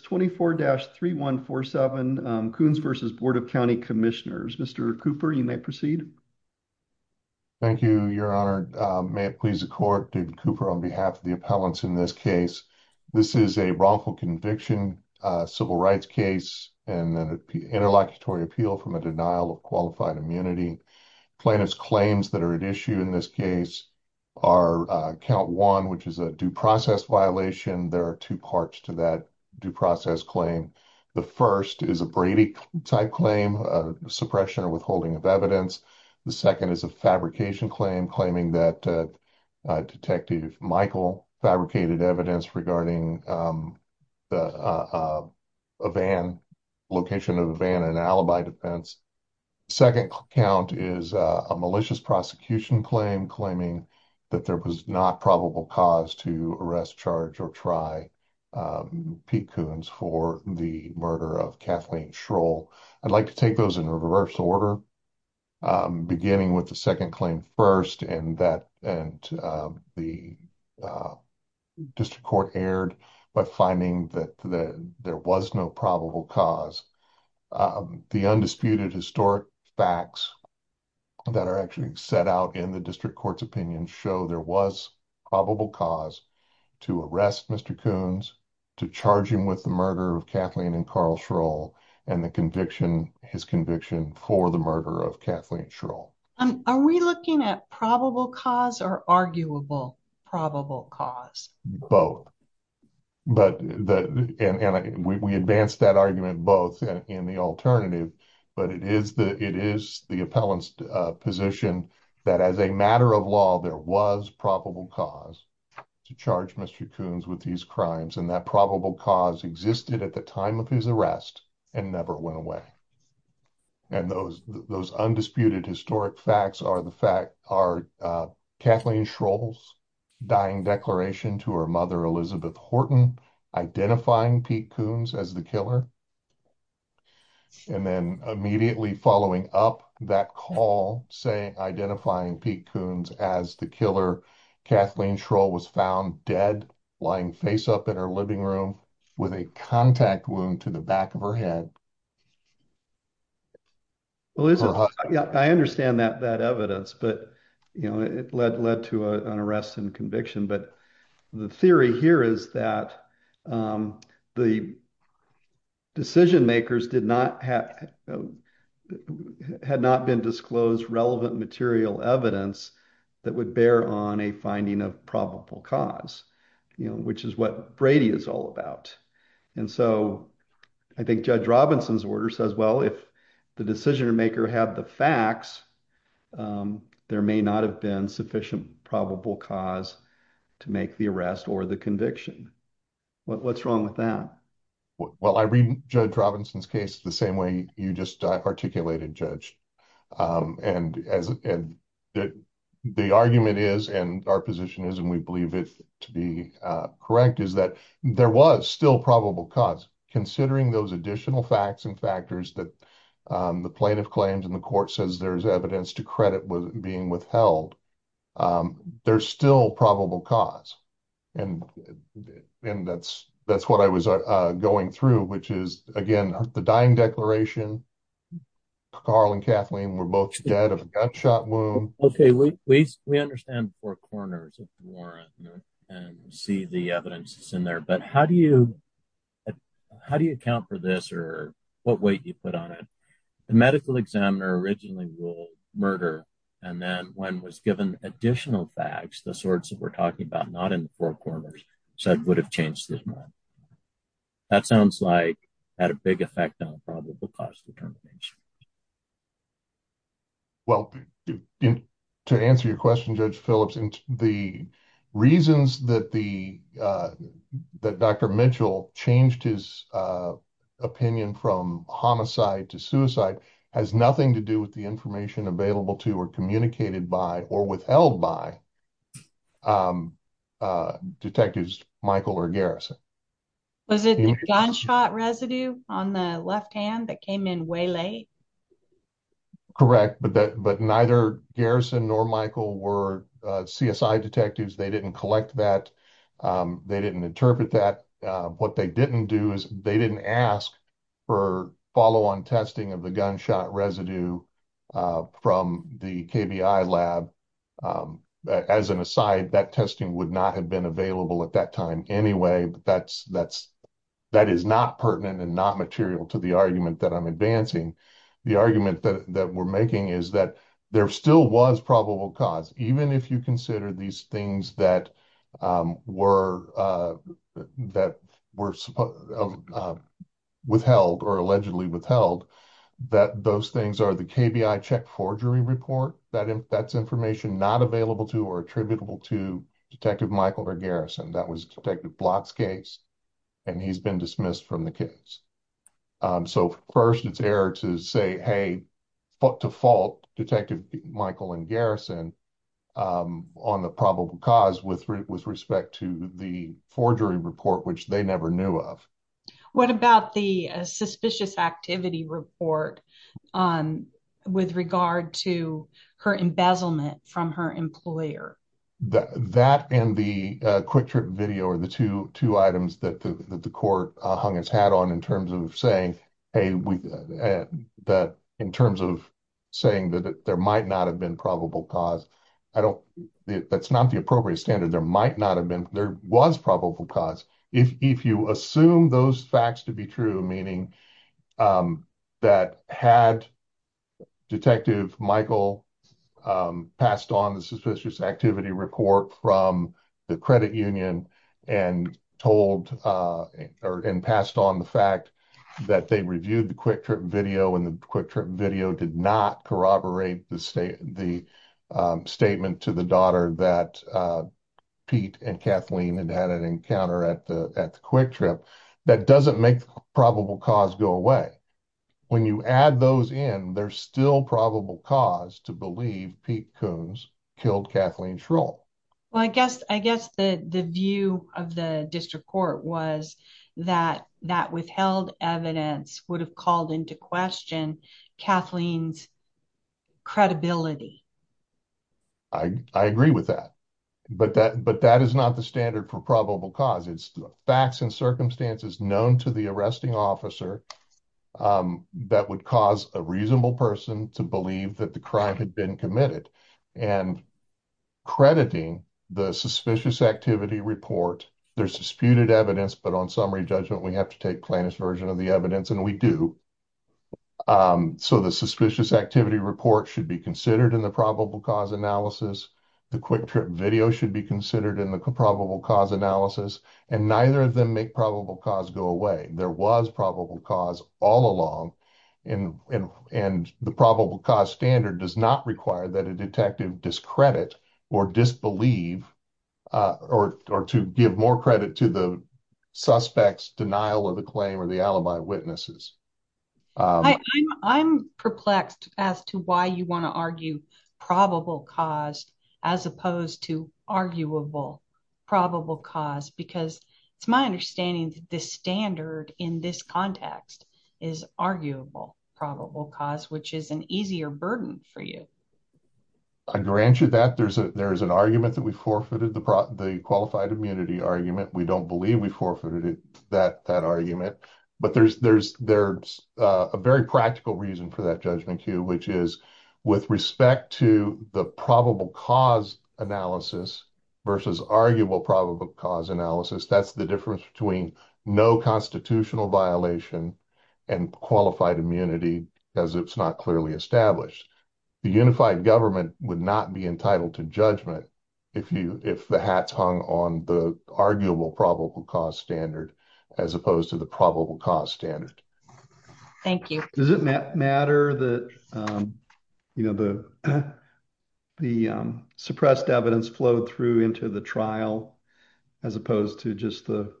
24-3147, Coones v. Board of County Commissioners. Mr. Cooper, you may proceed. Thank you, your honor. May it please the court, David Cooper, on behalf of the appellants in this case. This is a wrongful conviction civil rights case and an interlocutory appeal from a denial of qualified immunity. Plaintiffs' claims that are at issue in this case are count one, which is a due process violation. There are two parts to that due process claim. The first is a Brady type claim, a suppression or withholding of evidence. The second is a fabrication claim, claiming that Detective Michael fabricated evidence regarding the location of a van in alibi defense. Second count is a malicious prosecution claim, claiming that there was not probable cause to arrest, charge, or try Pete Coones for the murder of Kathleen Schroll. I'd like to take those in reverse order, beginning with the second claim first, and the district court erred by finding that there was no probable cause. The undisputed historic facts that are actually set out in the district court's opinion show there was probable cause to arrest Mr. Coones, to charge him with the murder of Kathleen and Carl Schroll, and his conviction for the murder of Kathleen Schroll. Are we looking at probable cause or arguable probable cause? Both. We advanced that argument both in the alternative, but it is the appellant's position that as a matter of law, there was probable cause to charge Mr. Coones with these crimes, and that probable cause existed at the time of his arrest and never went away. Those undisputed historic facts are Kathleen Schroll's dying declaration to her mother, Elizabeth Horton, identifying Pete Coones as the killer, and then immediately following up that call, identifying Pete Coones as the killer, Kathleen Schroll was found dead, lying face up in her living room, with a contact wound to the back of her head. Well, I understand that evidence, but it led to an arrest and conviction. The theory here is that the decision makers had not been disclosed relevant material evidence that would bear on a finding of probable cause, which is what Brady is all about. I think Judge Robinson order says, well, if the decision maker had the facts, there may not have been sufficient probable cause to make the arrest or the conviction. What's wrong with that? Well, I read Judge Robinson's case the same way you just articulated, Judge. The argument is, and our position is, and we believe it to be correct, is that there was still probable cause. Considering those additional facts and factors that the plaintiff claims and the court says there's evidence to credit being withheld, there's still probable cause. That's what I was going through, which is, again, the dying declaration, Carl and Kathleen were both dead of a gunshot wound. Okay. We understand the four corners of the warrant and see the evidence that's in there, but how do you account for this or what weight do you put on it? The medical examiner originally ruled murder, and then when was given additional facts, the sorts that we're talking about, not in the four corners, said would have changed his mind. That sounds like it had a big effect on probable cause determination. Well, to answer your question, Judge Phillips, the reasons that Dr. Mitchell changed his opinion from homicide to suicide has nothing to do with the information available to or communicated by or withheld by detectives Michael or Garrison. Was it the gunshot residue on the left hand that came in way late? Correct, but neither Garrison nor Michael were CSI detectives. They didn't collect that. They didn't interpret that. What they didn't do is they didn't ask for follow-on testing of the gunshot residue from the KBI lab. As an aside, that testing would not have been available at that time anyway, but that is not pertinent and not material to the argument that I'm advancing. The argument that we're making is that there still was probable cause, even if you consider these things that were withheld or allegedly withheld, that those things are the KBI check forgery report. That's information not available to or attributable to Detective Michael or Garrison. That was Detective Block's case, and he's been dismissed from the case. First, it's air to say, foot to fault Detective Michael and Garrison on the probable cause with respect to the forgery report, which they never knew of. What about the suspicious activity report with regard to her embezzlement from her employer? That and the quick trip video are the two items that the court hung its hat on in terms of saying that there might not have been probable cause. That's not the appropriate standard. There was probable cause. If you assume those facts to be true, meaning that had Detective Michael passed on the suspicious activity report from the credit union and passed on the fact that they reviewed the quick trip video and the quick trip video did not corroborate the statement to the daughter that Pete and Kathleen had had an encounter at the quick trip, that doesn't make probable cause go away. When you add those in, there's still probable cause to believe Pete Coons killed Kathleen Schroll. Well, I guess the view of the district court was that that withheld evidence would have called into question Kathleen's credibility. I agree with that, but that is not the standard for probable cause. It's facts and circumstances known to the arresting officer that would cause a reasonable person to believe that the crime had been committed. And crediting the suspicious activity report, there's disputed evidence, but on summary judgment, we have to take plaintiff's version of the evidence and we do. So the suspicious activity report should be considered in the probable cause analysis. The quick trip video should be considered in the probable cause analysis and neither of them make probable cause go away. There was probable cause all along and the probable cause standard does not require that a detective discredit or disbelieve or to give more credit to the suspect's denial of the claim or the alibi witnesses. I'm perplexed as to why you want to argue probable cause as opposed to arguable probable cause, because it's my understanding that the standard in this context is arguable probable cause, which is an easier burden for you. I grant you that. There's an argument that we forfeited the qualified immunity argument. We don't believe we forfeited that argument, but there's a very practical reason for that judgment cue, which is with respect to the probable cause analysis versus arguable probable cause analysis. That's the difference between no constitutional violation and qualified immunity because it's not clearly established. The unified government would not be entitled to judgment if the hat's hung on the arguable probable cause standard as opposed to the probable cause standard. Thank you. Does it matter that the suppressed evidence flowed through into the trial as opposed to just the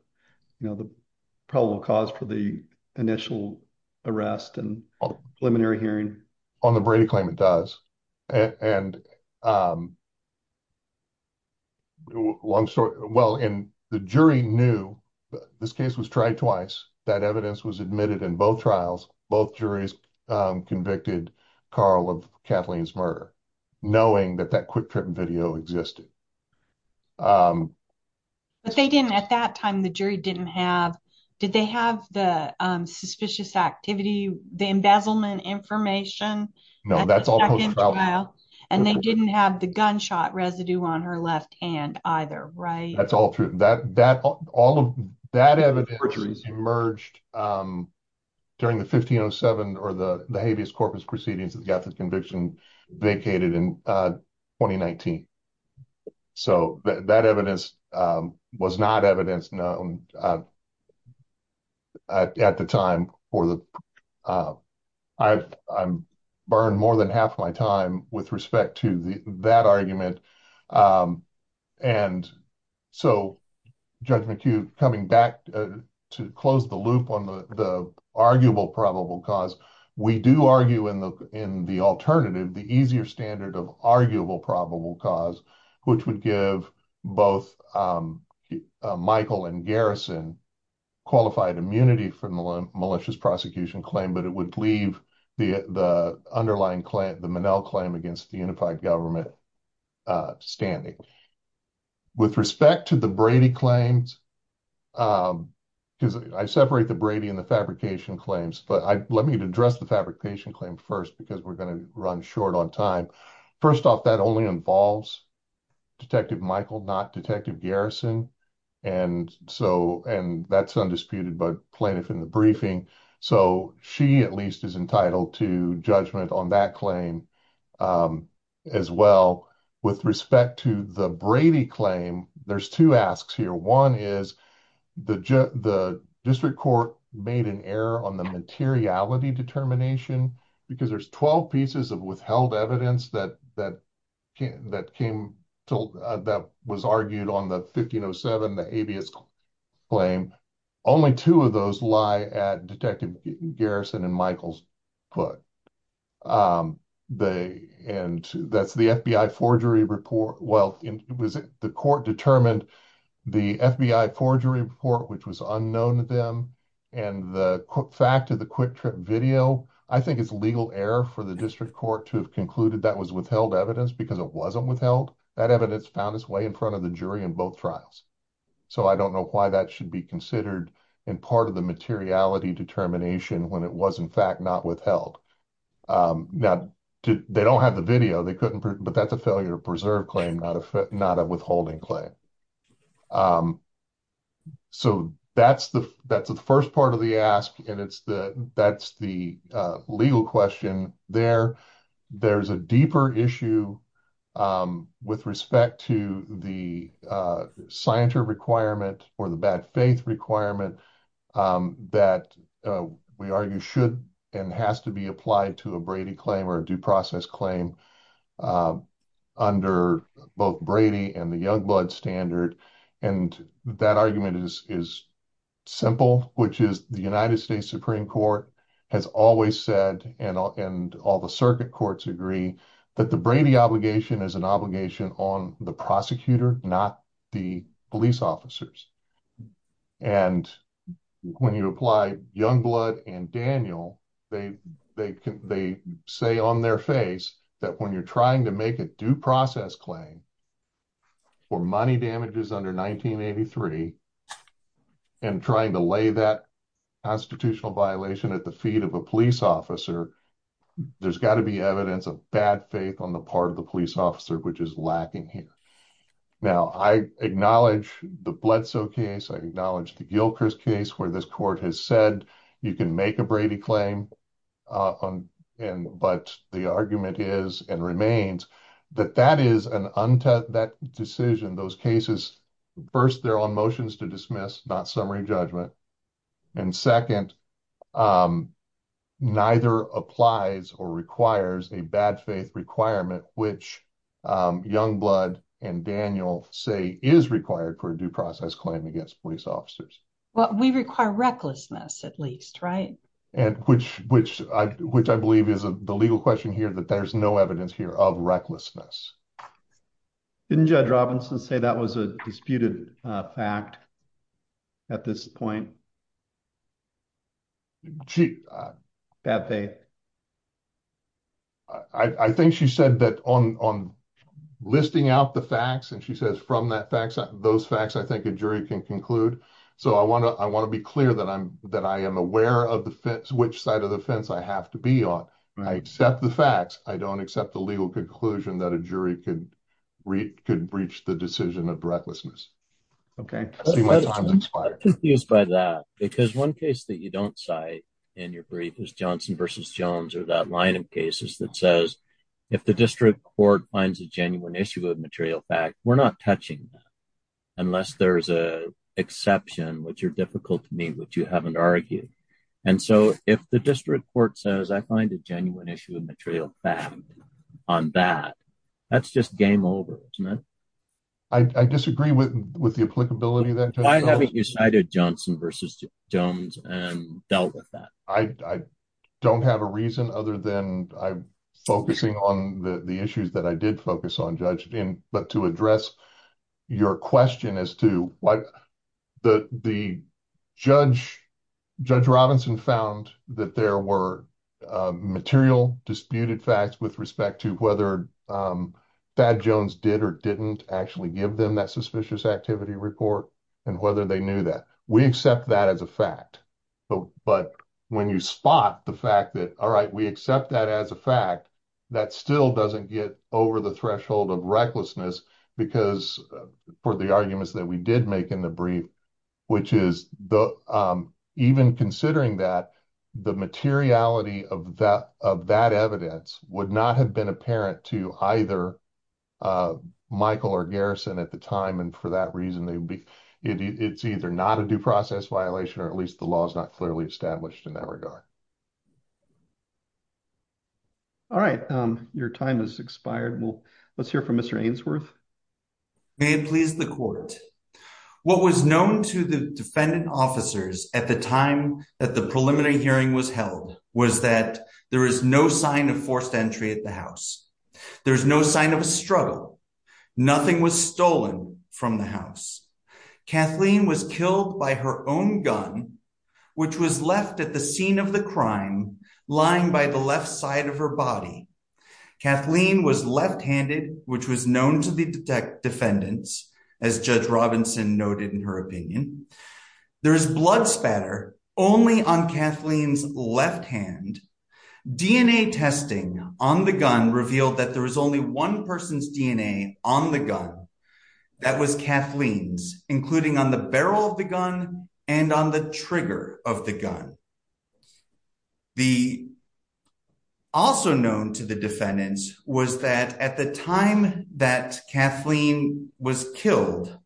probable cause for the initial arrest and preliminary hearing? On the Brady claim, it does. The jury knew, this case was tried twice, that evidence was admitted in both trials. Both juries convicted Carl of Kathleen's murder, knowing that that quick trip video existed. But they didn't, at that time, the jury didn't have, did they have the suspicious activity, the embezzlement information? No, that's all post-trial. And they didn't have the gunshot residue on her left hand either, right? That's all true. All of that evidence emerged during the 1507 or the habeas corpus proceedings that got the conviction vacated in 2019. So that evidence was not evidence known at the time for the... I burned more than half my time with respect to that argument. And so, Judge McHugh, coming back to close the loop on the arguable probable cause, we do argue in the alternative, the easier standard of arguable probable cause, which would give both Michael and Garrison qualified immunity from the malicious prosecution claim, but it would leave the underlying claim, the Minnell claim against the unified government standing. With respect to the Brady claims, because I separate the Brady and the fabrication claims, but let me address the fabrication claim first, because we're going to run short on time. First off, that only involves Detective Michael, not Detective Garrison. And that's undisputed by plaintiff in the briefing. So she at least is entitled to judgment on that claim as well. With respect to the Brady claim, there's two asks here. One is the district court made an error on the materiality determination, because there's 12 pieces of withheld evidence that was argued on the 1507, the habeas claim. Only two of those lie at Detective Garrison and Michael's foot. And that's the FBI forgery report. Well, it was the court determined the FBI forgery report, which was known to them. And the fact of the quick trip video, I think it's legal error for the district court to have concluded that was withheld evidence because it wasn't withheld. That evidence found its way in front of the jury in both trials. So I don't know why that should be considered in part of the materiality determination when it was in fact not withheld. Now, they don't have the video, but that's a failure to preserve claim, not a withholding claim. So that's the first part of the ask. And that's the legal question there. There's a deeper issue with respect to the scienter requirement or the bad faith requirement that we argue should and has to be applied to a Brady claim or due process claim under both Brady and the Youngblood standard. And that argument is simple, which is the United States Supreme Court has always said, and all the circuit courts agree, that the Brady obligation is an obligation on the prosecutor, not the police officers. And when you apply Youngblood and Daniel, they say on their face that when you're trying to make a due process claim for money damages under 1983 and trying to lay that constitutional violation at the feet of a police officer, there's got to be evidence of bad faith on the part of the police officer, which is lacking here. Now, I acknowledge the Bledsoe case. I acknowledge the Gilkers case, where this court has said you can make a Brady claim, but the argument is and remains that that is an untest that decision. Those cases, first, they're on motions to dismiss, not summary judgment. And second, neither applies or requires a bad faith requirement, which Youngblood and Daniel say is required for a due process claim against police officers. Well, we require recklessness at least, right? Which I believe is the legal question here, that there's no evidence here of recklessness. Didn't Judge Robinson say that was a disputed fact at this point? She... Bad faith. I think she said that on listing out the facts, and she says from those facts, I think a jury can conclude. So I want to be clear that I am aware of which side of the fence I have to be on. I accept the facts. I don't accept the legal conclusion that a jury could breach the decision of recklessness. Okay. I'm confused by that, because one case that you don't cite in your brief is Johnson versus Jones or that line of cases that says, if the district court finds a genuine issue of material fact, we're not touching that unless there's an exception, which are difficult to meet, which you haven't argued. And so if the district court says I find a genuine issue of material fact on that, that's just game over, isn't it? I disagree with the applicability of that. Why haven't you cited Johnson versus Jones and dealt with that? I don't have a reason other than I'm focusing on the issues that I did focus on, Judge, but to address your question as to why... Judge Robinson found that there were material disputed facts with respect to whether Thad Jones did or didn't actually give them that suspicious activity report and whether they knew that. We accept that as a fact, but when you spot the fact that, all right, we accept that as a fact, that still doesn't get over the threshold of recklessness because for the arguments that we did make in the brief, which is even considering that the materiality of that evidence would not have been apparent to either Michael or Garrison at the time. And for that reason, it's either not a due process violation or at least the law is not clearly established in that regard. All right. Your time has expired. Well, let's hear from Mr. Ainsworth. May it please the court. What was known to the defendant officers at the time that the preliminary hearing was held was that there is no sign of forced entry at the house. There's no sign of a struggle. Nothing was stolen from the house. Kathleen was killed by her own gun, which was left at the scene of the crime, lying by the left side of her body. Kathleen was left handed, which was known to the defendants, as Judge Robinson noted in her opinion. There is blood spatter only on Kathleen's left hand. DNA testing on the gun revealed that there was only one person's DNA on the gun. That was Kathleen's, including on the barrel of the gun and on the trigger of the gun. Also known to the defendants was that at the time that Kathleen was killed,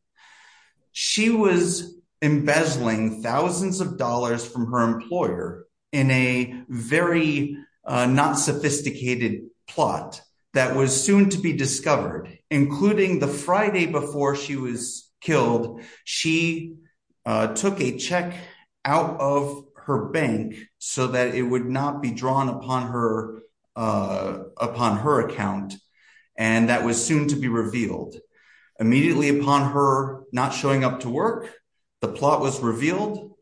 she was embezzling thousands of dollars from her employer in a very not sophisticated plot that was soon to be discovered, including the Friday before she was killed. She took a check out of her bank so that it would not be drawn upon her account, and that was soon to be revealed. Immediately upon her not showing up to work, the plot was revealed.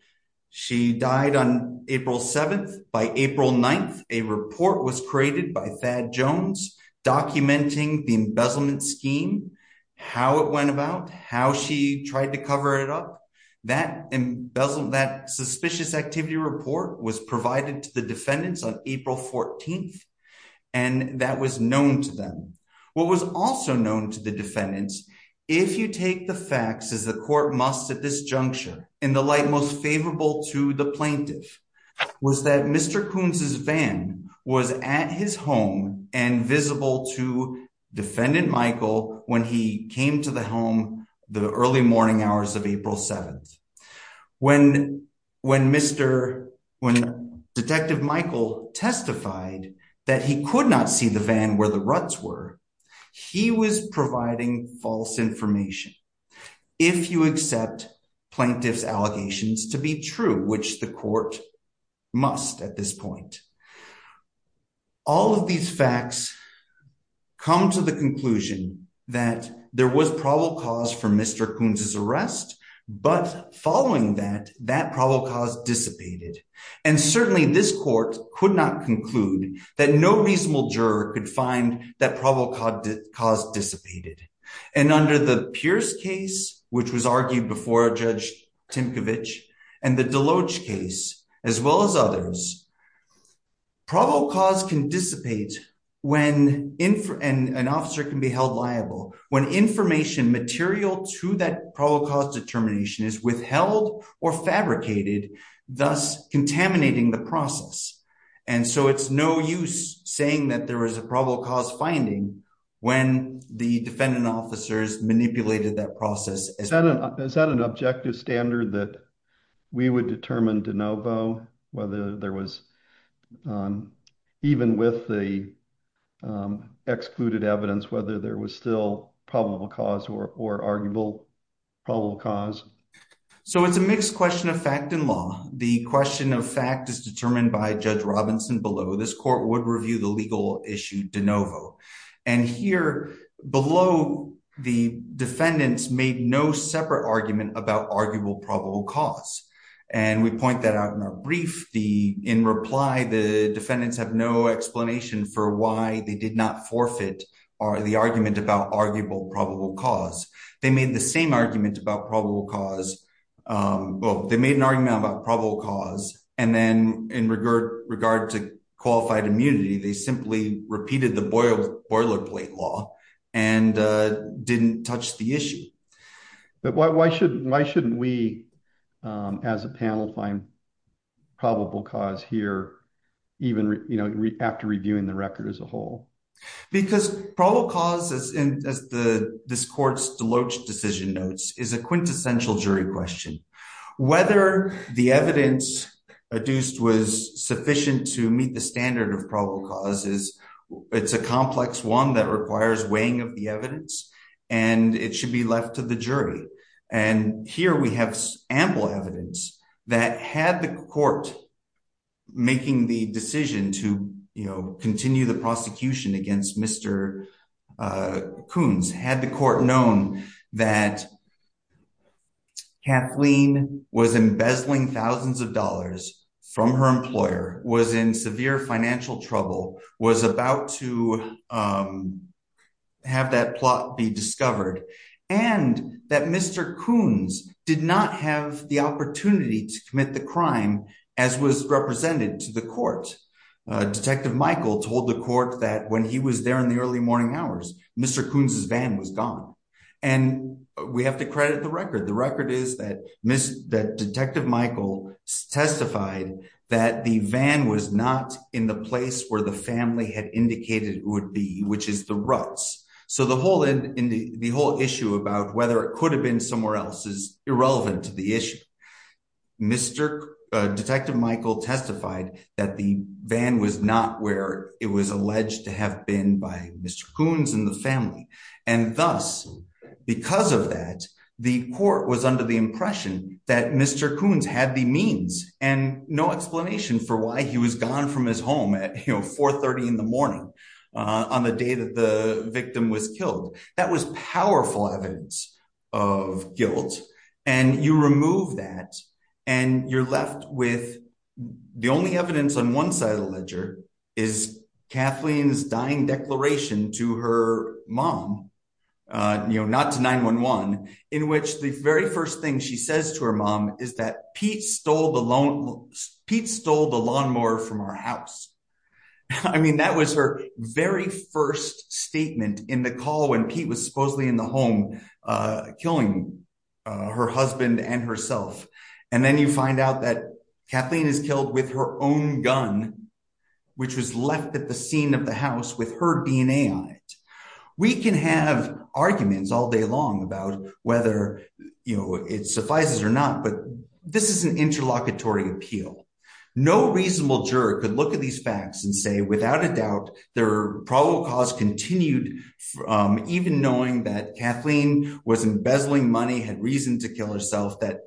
She died on April 7th. By April 9th, a report was created by Thad Jones documenting the embezzlement tried to cover it up. That suspicious activity report was provided to the defendants on April 14th and that was known to them. What was also known to the defendants, if you take the facts as the court must at this juncture, in the light most favorable to the plaintiff, was that Mr. Kunz's van was at his home and visible to Defendant Michael when he came to the home the early morning hours of April 7th. When Detective Michael testified that he could not see the van where the ruts were, he was providing false information. If you accept plaintiff's allegations to be true, which the court must at this point, all of these facts come to the conclusion that there was probable cause for Mr. Kunz's arrest, but following that, that probable cause dissipated. And certainly this court could not conclude that no reasonable juror could find that probable cause dissipated. And under the Pierce case, which was argued before Judge Timcovich, and the Deloge case, as well as others, probable cause can dissipate when an officer can be held liable, when information material to that probable cause determination is withheld or fabricated, thus contaminating the process. And so it's no use saying that there was a probable cause finding when the defendant officers manipulated that process. Is that an objective standard that we would determine de novo, whether there was, even with the excluded evidence, whether there was still probable cause or arguable probable cause? So it's a mixed question of fact and law. The question of fact is determined by Judge Robinson below. This court would review the legal issue de novo. And here below, the defendants made no separate argument about arguable probable cause. And we point that out in our brief. In reply, the defendants have no explanation for why they did not forfeit the argument about arguable probable cause. They made the same argument about probable cause. Well, they made an argument about probable cause. And then in regard to qualified immunity, they simply repeated the boilerplate law and didn't touch the issue. But why shouldn't we, as a panel, find probable cause here, even after reviewing the record as a whole? Because probable cause, as this court's Deloach decision notes, is a quintessential jury question. Whether the evidence adduced was sufficient to meet the standard of probable cause, it's a complex one that requires weighing of the evidence, and it should be left to the jury. And here we have ample evidence that had the court making the decision to continue the prosecution against Mr. Coons, had the court known that Kathleen was embezzling thousands of dollars from her employer, was in severe financial trouble, was about to have that plot be discovered, and that Mr. Coons did not have the opportunity to commit the crime, as was represented to the court. Detective Michael told the court that when he was there in the early morning hours, Mr. Coons's van was gone. And we have to credit the record. The record is that Detective Michael testified that the van was not in the place where the family had indicated it would be, which is the ruts. So the whole issue about whether it could have been somewhere else is irrelevant to the issue. Detective Michael testified that the van was not where it was alleged to have been by Mr. Coons and the family. And thus, because of that, the court was under the impression that Mr. Coons had the means and no explanation for why he was gone from his home at 4.30 in the morning on the day that the victim was killed. That was powerful evidence of guilt. And you remove that and you're left with the only evidence on one side of the ledger is Kathleen's dying declaration to her mom, not to 9-1-1, in which the very first thing she says to her mom is that Pete stole the lawnmower from her house. I mean, that was her very first statement in the call when Pete was supposedly in the home killing her husband and herself. And then you find out that Kathleen is killed with her own gun, which was left at the scene of the house with her DNA on it. We can have arguments all day long about whether, you know, it suffices or not, but this is an interlocutory appeal. No reasonable juror could look at these facts and say, without a doubt, their probable cause continued even knowing that Kathleen was embezzling money, had reason to kill herself, that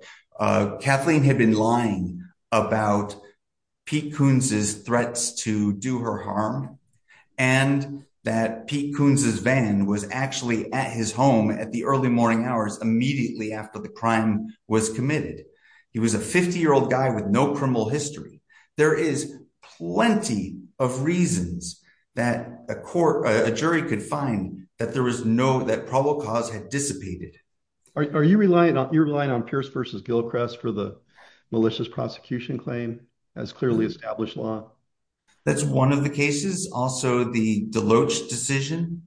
Kathleen had been lying about Pete Coons's threats to do her harm, and that Pete Coons's van was actually at his home at the early morning hours immediately after the crime was committed. He was a 50-year-old guy with no criminal history. There is plenty of reasons that a court, a jury could find that there was no, that probable cause had dissipated. Are you relying on Pierce v. Gilchrist for the malicious prosecution claim as clearly established law? That's one of the cases. Also, the Deloach decision,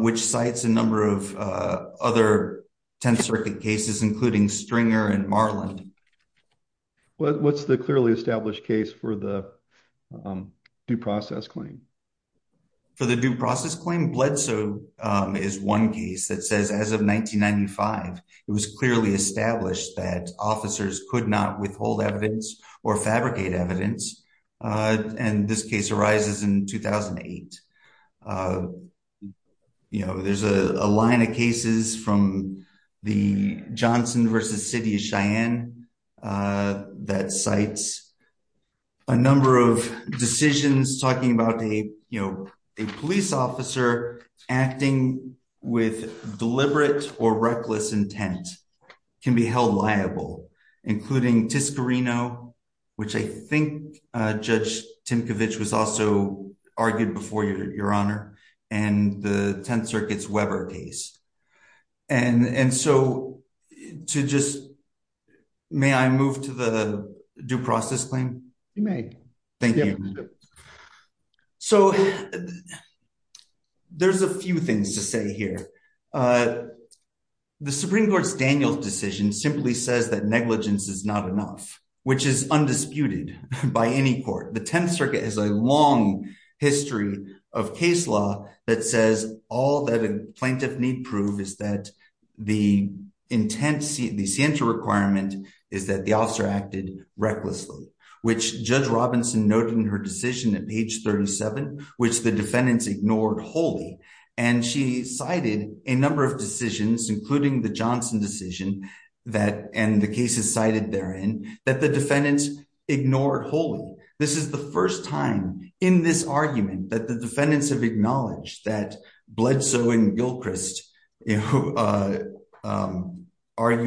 which cites a number of other Tenth Circuit cases, including Stringer and Marland. What's the clearly established case for the due process claim? For the due process claim, Bledsoe is one case that says, as of 1995, it was clearly established that officers could not withhold evidence or fabricate evidence, and this case arises in 2008. You know, there's a line of cases from the Johnson v. City of Cheyenne that cites a number of decisions talking about a police officer acting with deliberate or reckless intent can be held liable, including Tiscarino, which I think Judge Timkovich was also May I move to the due process claim? Thank you. So there's a few things to say here. The Supreme Court's Daniels decision simply says that negligence is not enough, which is undisputed by any court. The Tenth Circuit has a long history of case law that says all that a plaintiff need prove is that the intent, the scienter requirement is that the officer acted recklessly, which Judge Robinson noted in her decision at page 37, which the defendants ignored wholly. And she cited a number of decisions, including the Johnson decision that, and the cases cited therein, that the defendants ignored wholly. This is the first time in this argument that the defendants have acknowledged that Bledsoe and Gilchrist argue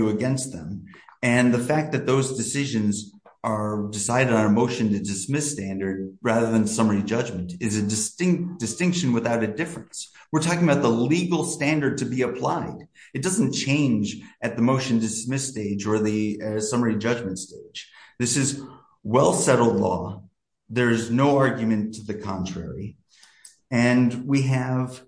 against them. And the fact that those decisions are decided on a motion to dismiss standard rather than summary judgment is a distinct distinction without a difference. We're talking about the legal standard to be applied. It doesn't change at the motion dismiss stage or the summary judgment stage. This is well-settled law. There's no argument to the contrary. And we have,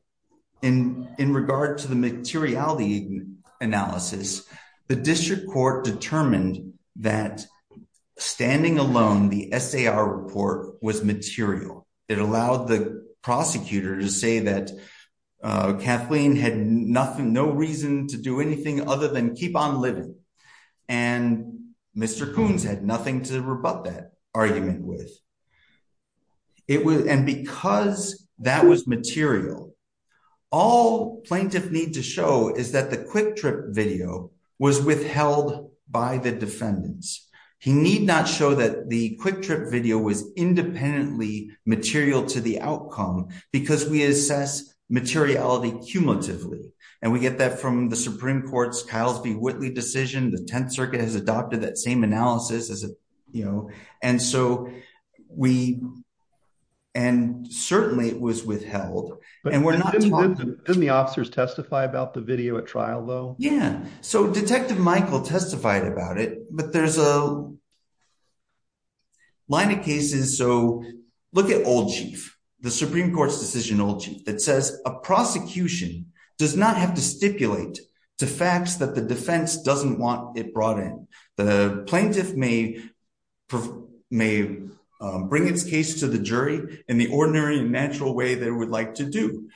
in regard to the materiality analysis, the district court determined that standing alone, the SAR report was material. It allowed the prosecutor to say that Kathleen had nothing, no reason to do anything other than keep on living. And Mr. Coons had nothing to rebut that argument with. And because that was material, all plaintiff need to show is that the quick trip video was withheld by the defendants. He need not show that the quick trip video was independently material to the outcome, because we assess materiality cumulatively. And we get that from the Supreme Court's Ciles v. Whitley decision. The 10th Circuit has adopted that same analysis. And certainly, it was withheld. And we're not talking- Didn't the officers testify about the video at trial, though? Yeah. So Detective Michael testified about it, but there's a line of cases. So look at Old Chief, the Supreme Court's decision, Old Chief, that says a prosecution does not have to stipulate to facts that the defense doesn't want it brought in. The plaintiff may bring its case to the jury in the ordinary and natural way they would like to do,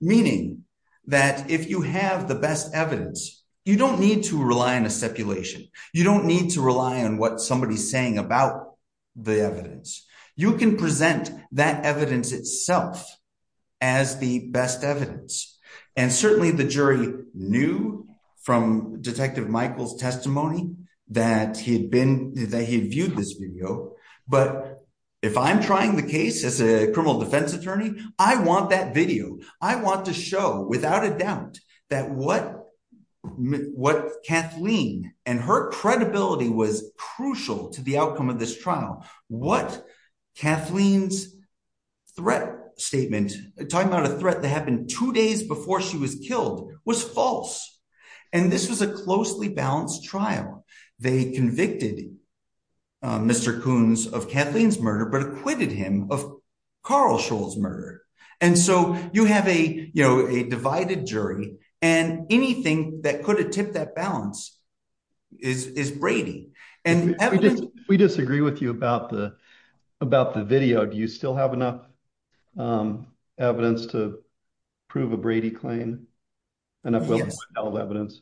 meaning that if you have the best evidence, you don't need to rely on a stipulation. You don't need to rely on what somebody's saying about the evidence. You can present that evidence itself as the best evidence. And certainly, the jury knew from Detective Michael's testimony that he viewed this video. But if I'm trying the case as a criminal defense attorney, I want that video. I want to show, without a doubt, that what Kathleen and her credibility was crucial to the outcome of this trial, what Kathleen's threat statement, talking about a threat that happened two days before she was killed, was false. And this was a closely balanced trial. They convicted Mr. Coons of Kathleen's murder, but acquitted him of Carl Scholl's murder. And so you have a, you know, a divided jury, and anything that could have tipped that balance is Brady. We disagree with you about the video. Do you still have enough evidence to prove a Brady claim, enough evidence?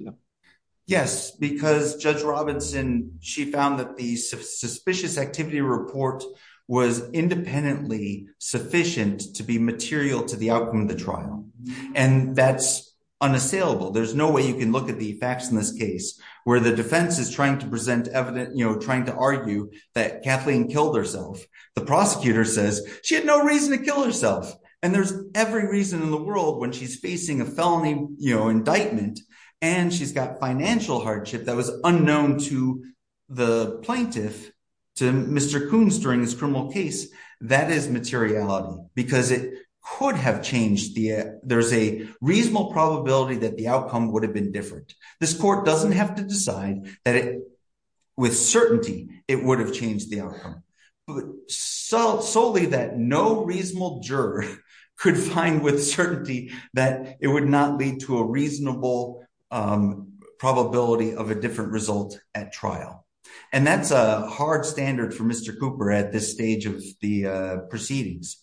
Yes, because Judge Robinson, she found that the suspicious activity report was independently sufficient to be material to the outcome of the trial. And that's unassailable. There's no way you can look at the facts in this case, where the defense is trying to present evidence, you know, trying to argue that Kathleen killed herself. The prosecutor says she had no reason to kill herself. And there's every reason in the world when she's facing a felony, you know, indictment, and she's got financial hardship that was unknown to the plaintiff, to Mr. Coons during his criminal case, that is materiality, because it could have changed the, there's a reasonable probability that the outcome would have been different. This court doesn't have to decide that it, with certainty, it would have changed the outcome. So solely that no reasonable juror could find with certainty that it would not lead to a reasonable probability of a different result at trial. And that's a hard standard for Mr. Cooper at this stage of the proceedings.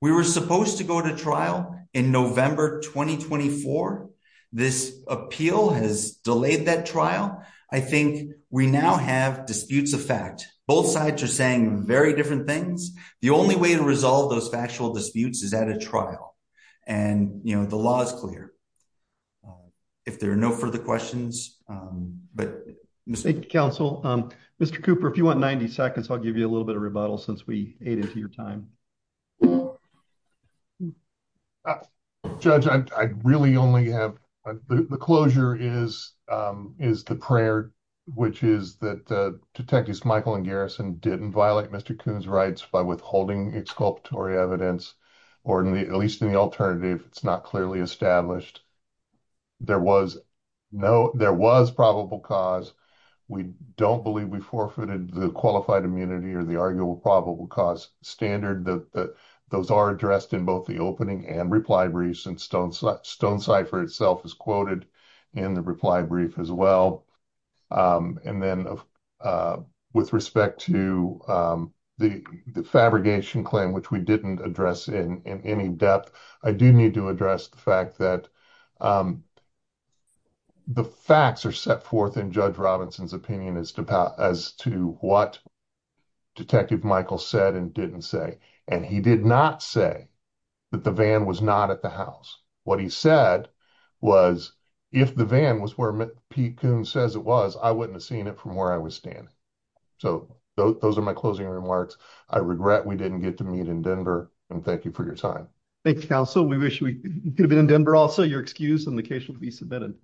We were supposed to go to trial in November 2024. This appeal has delayed that trial. I think we now have disputes of fact, both sides are saying very different things. The only way to resolve those factual disputes is at a trial. And, you know, the law is clear. If there are no further questions, but... Counsel, Mr. Cooper, if you want 90 seconds, I'll give you a little bit of time. Judge, I really only have, the closure is the prayer, which is that Detectives Michael and Garrison didn't violate Mr. Coons' rights by withholding exculpatory evidence, or at least in the alternative, it's not clearly established. There was probable cause. We don't believe we forfeited the qualified immunity or the arguable probable cause standard. Those are addressed in the opening and reply briefs, and Stonecipher itself is quoted in the reply brief as well. And then with respect to the fabrication claim, which we didn't address in any depth, I do need to address the fact that the facts are set forth in Judge Robinson's opinion as to what Detective Michael said and didn't say. And he did not say that the van was not at the house. What he said was, if the van was where Pete Coons says it was, I wouldn't have seen it from where I was standing. So those are my closing remarks. I regret we didn't get to meet in Denver, and thank you for your time. Thank you, Counsel. We wish we could have been in Denver also. Your excuse in the case will be submitted.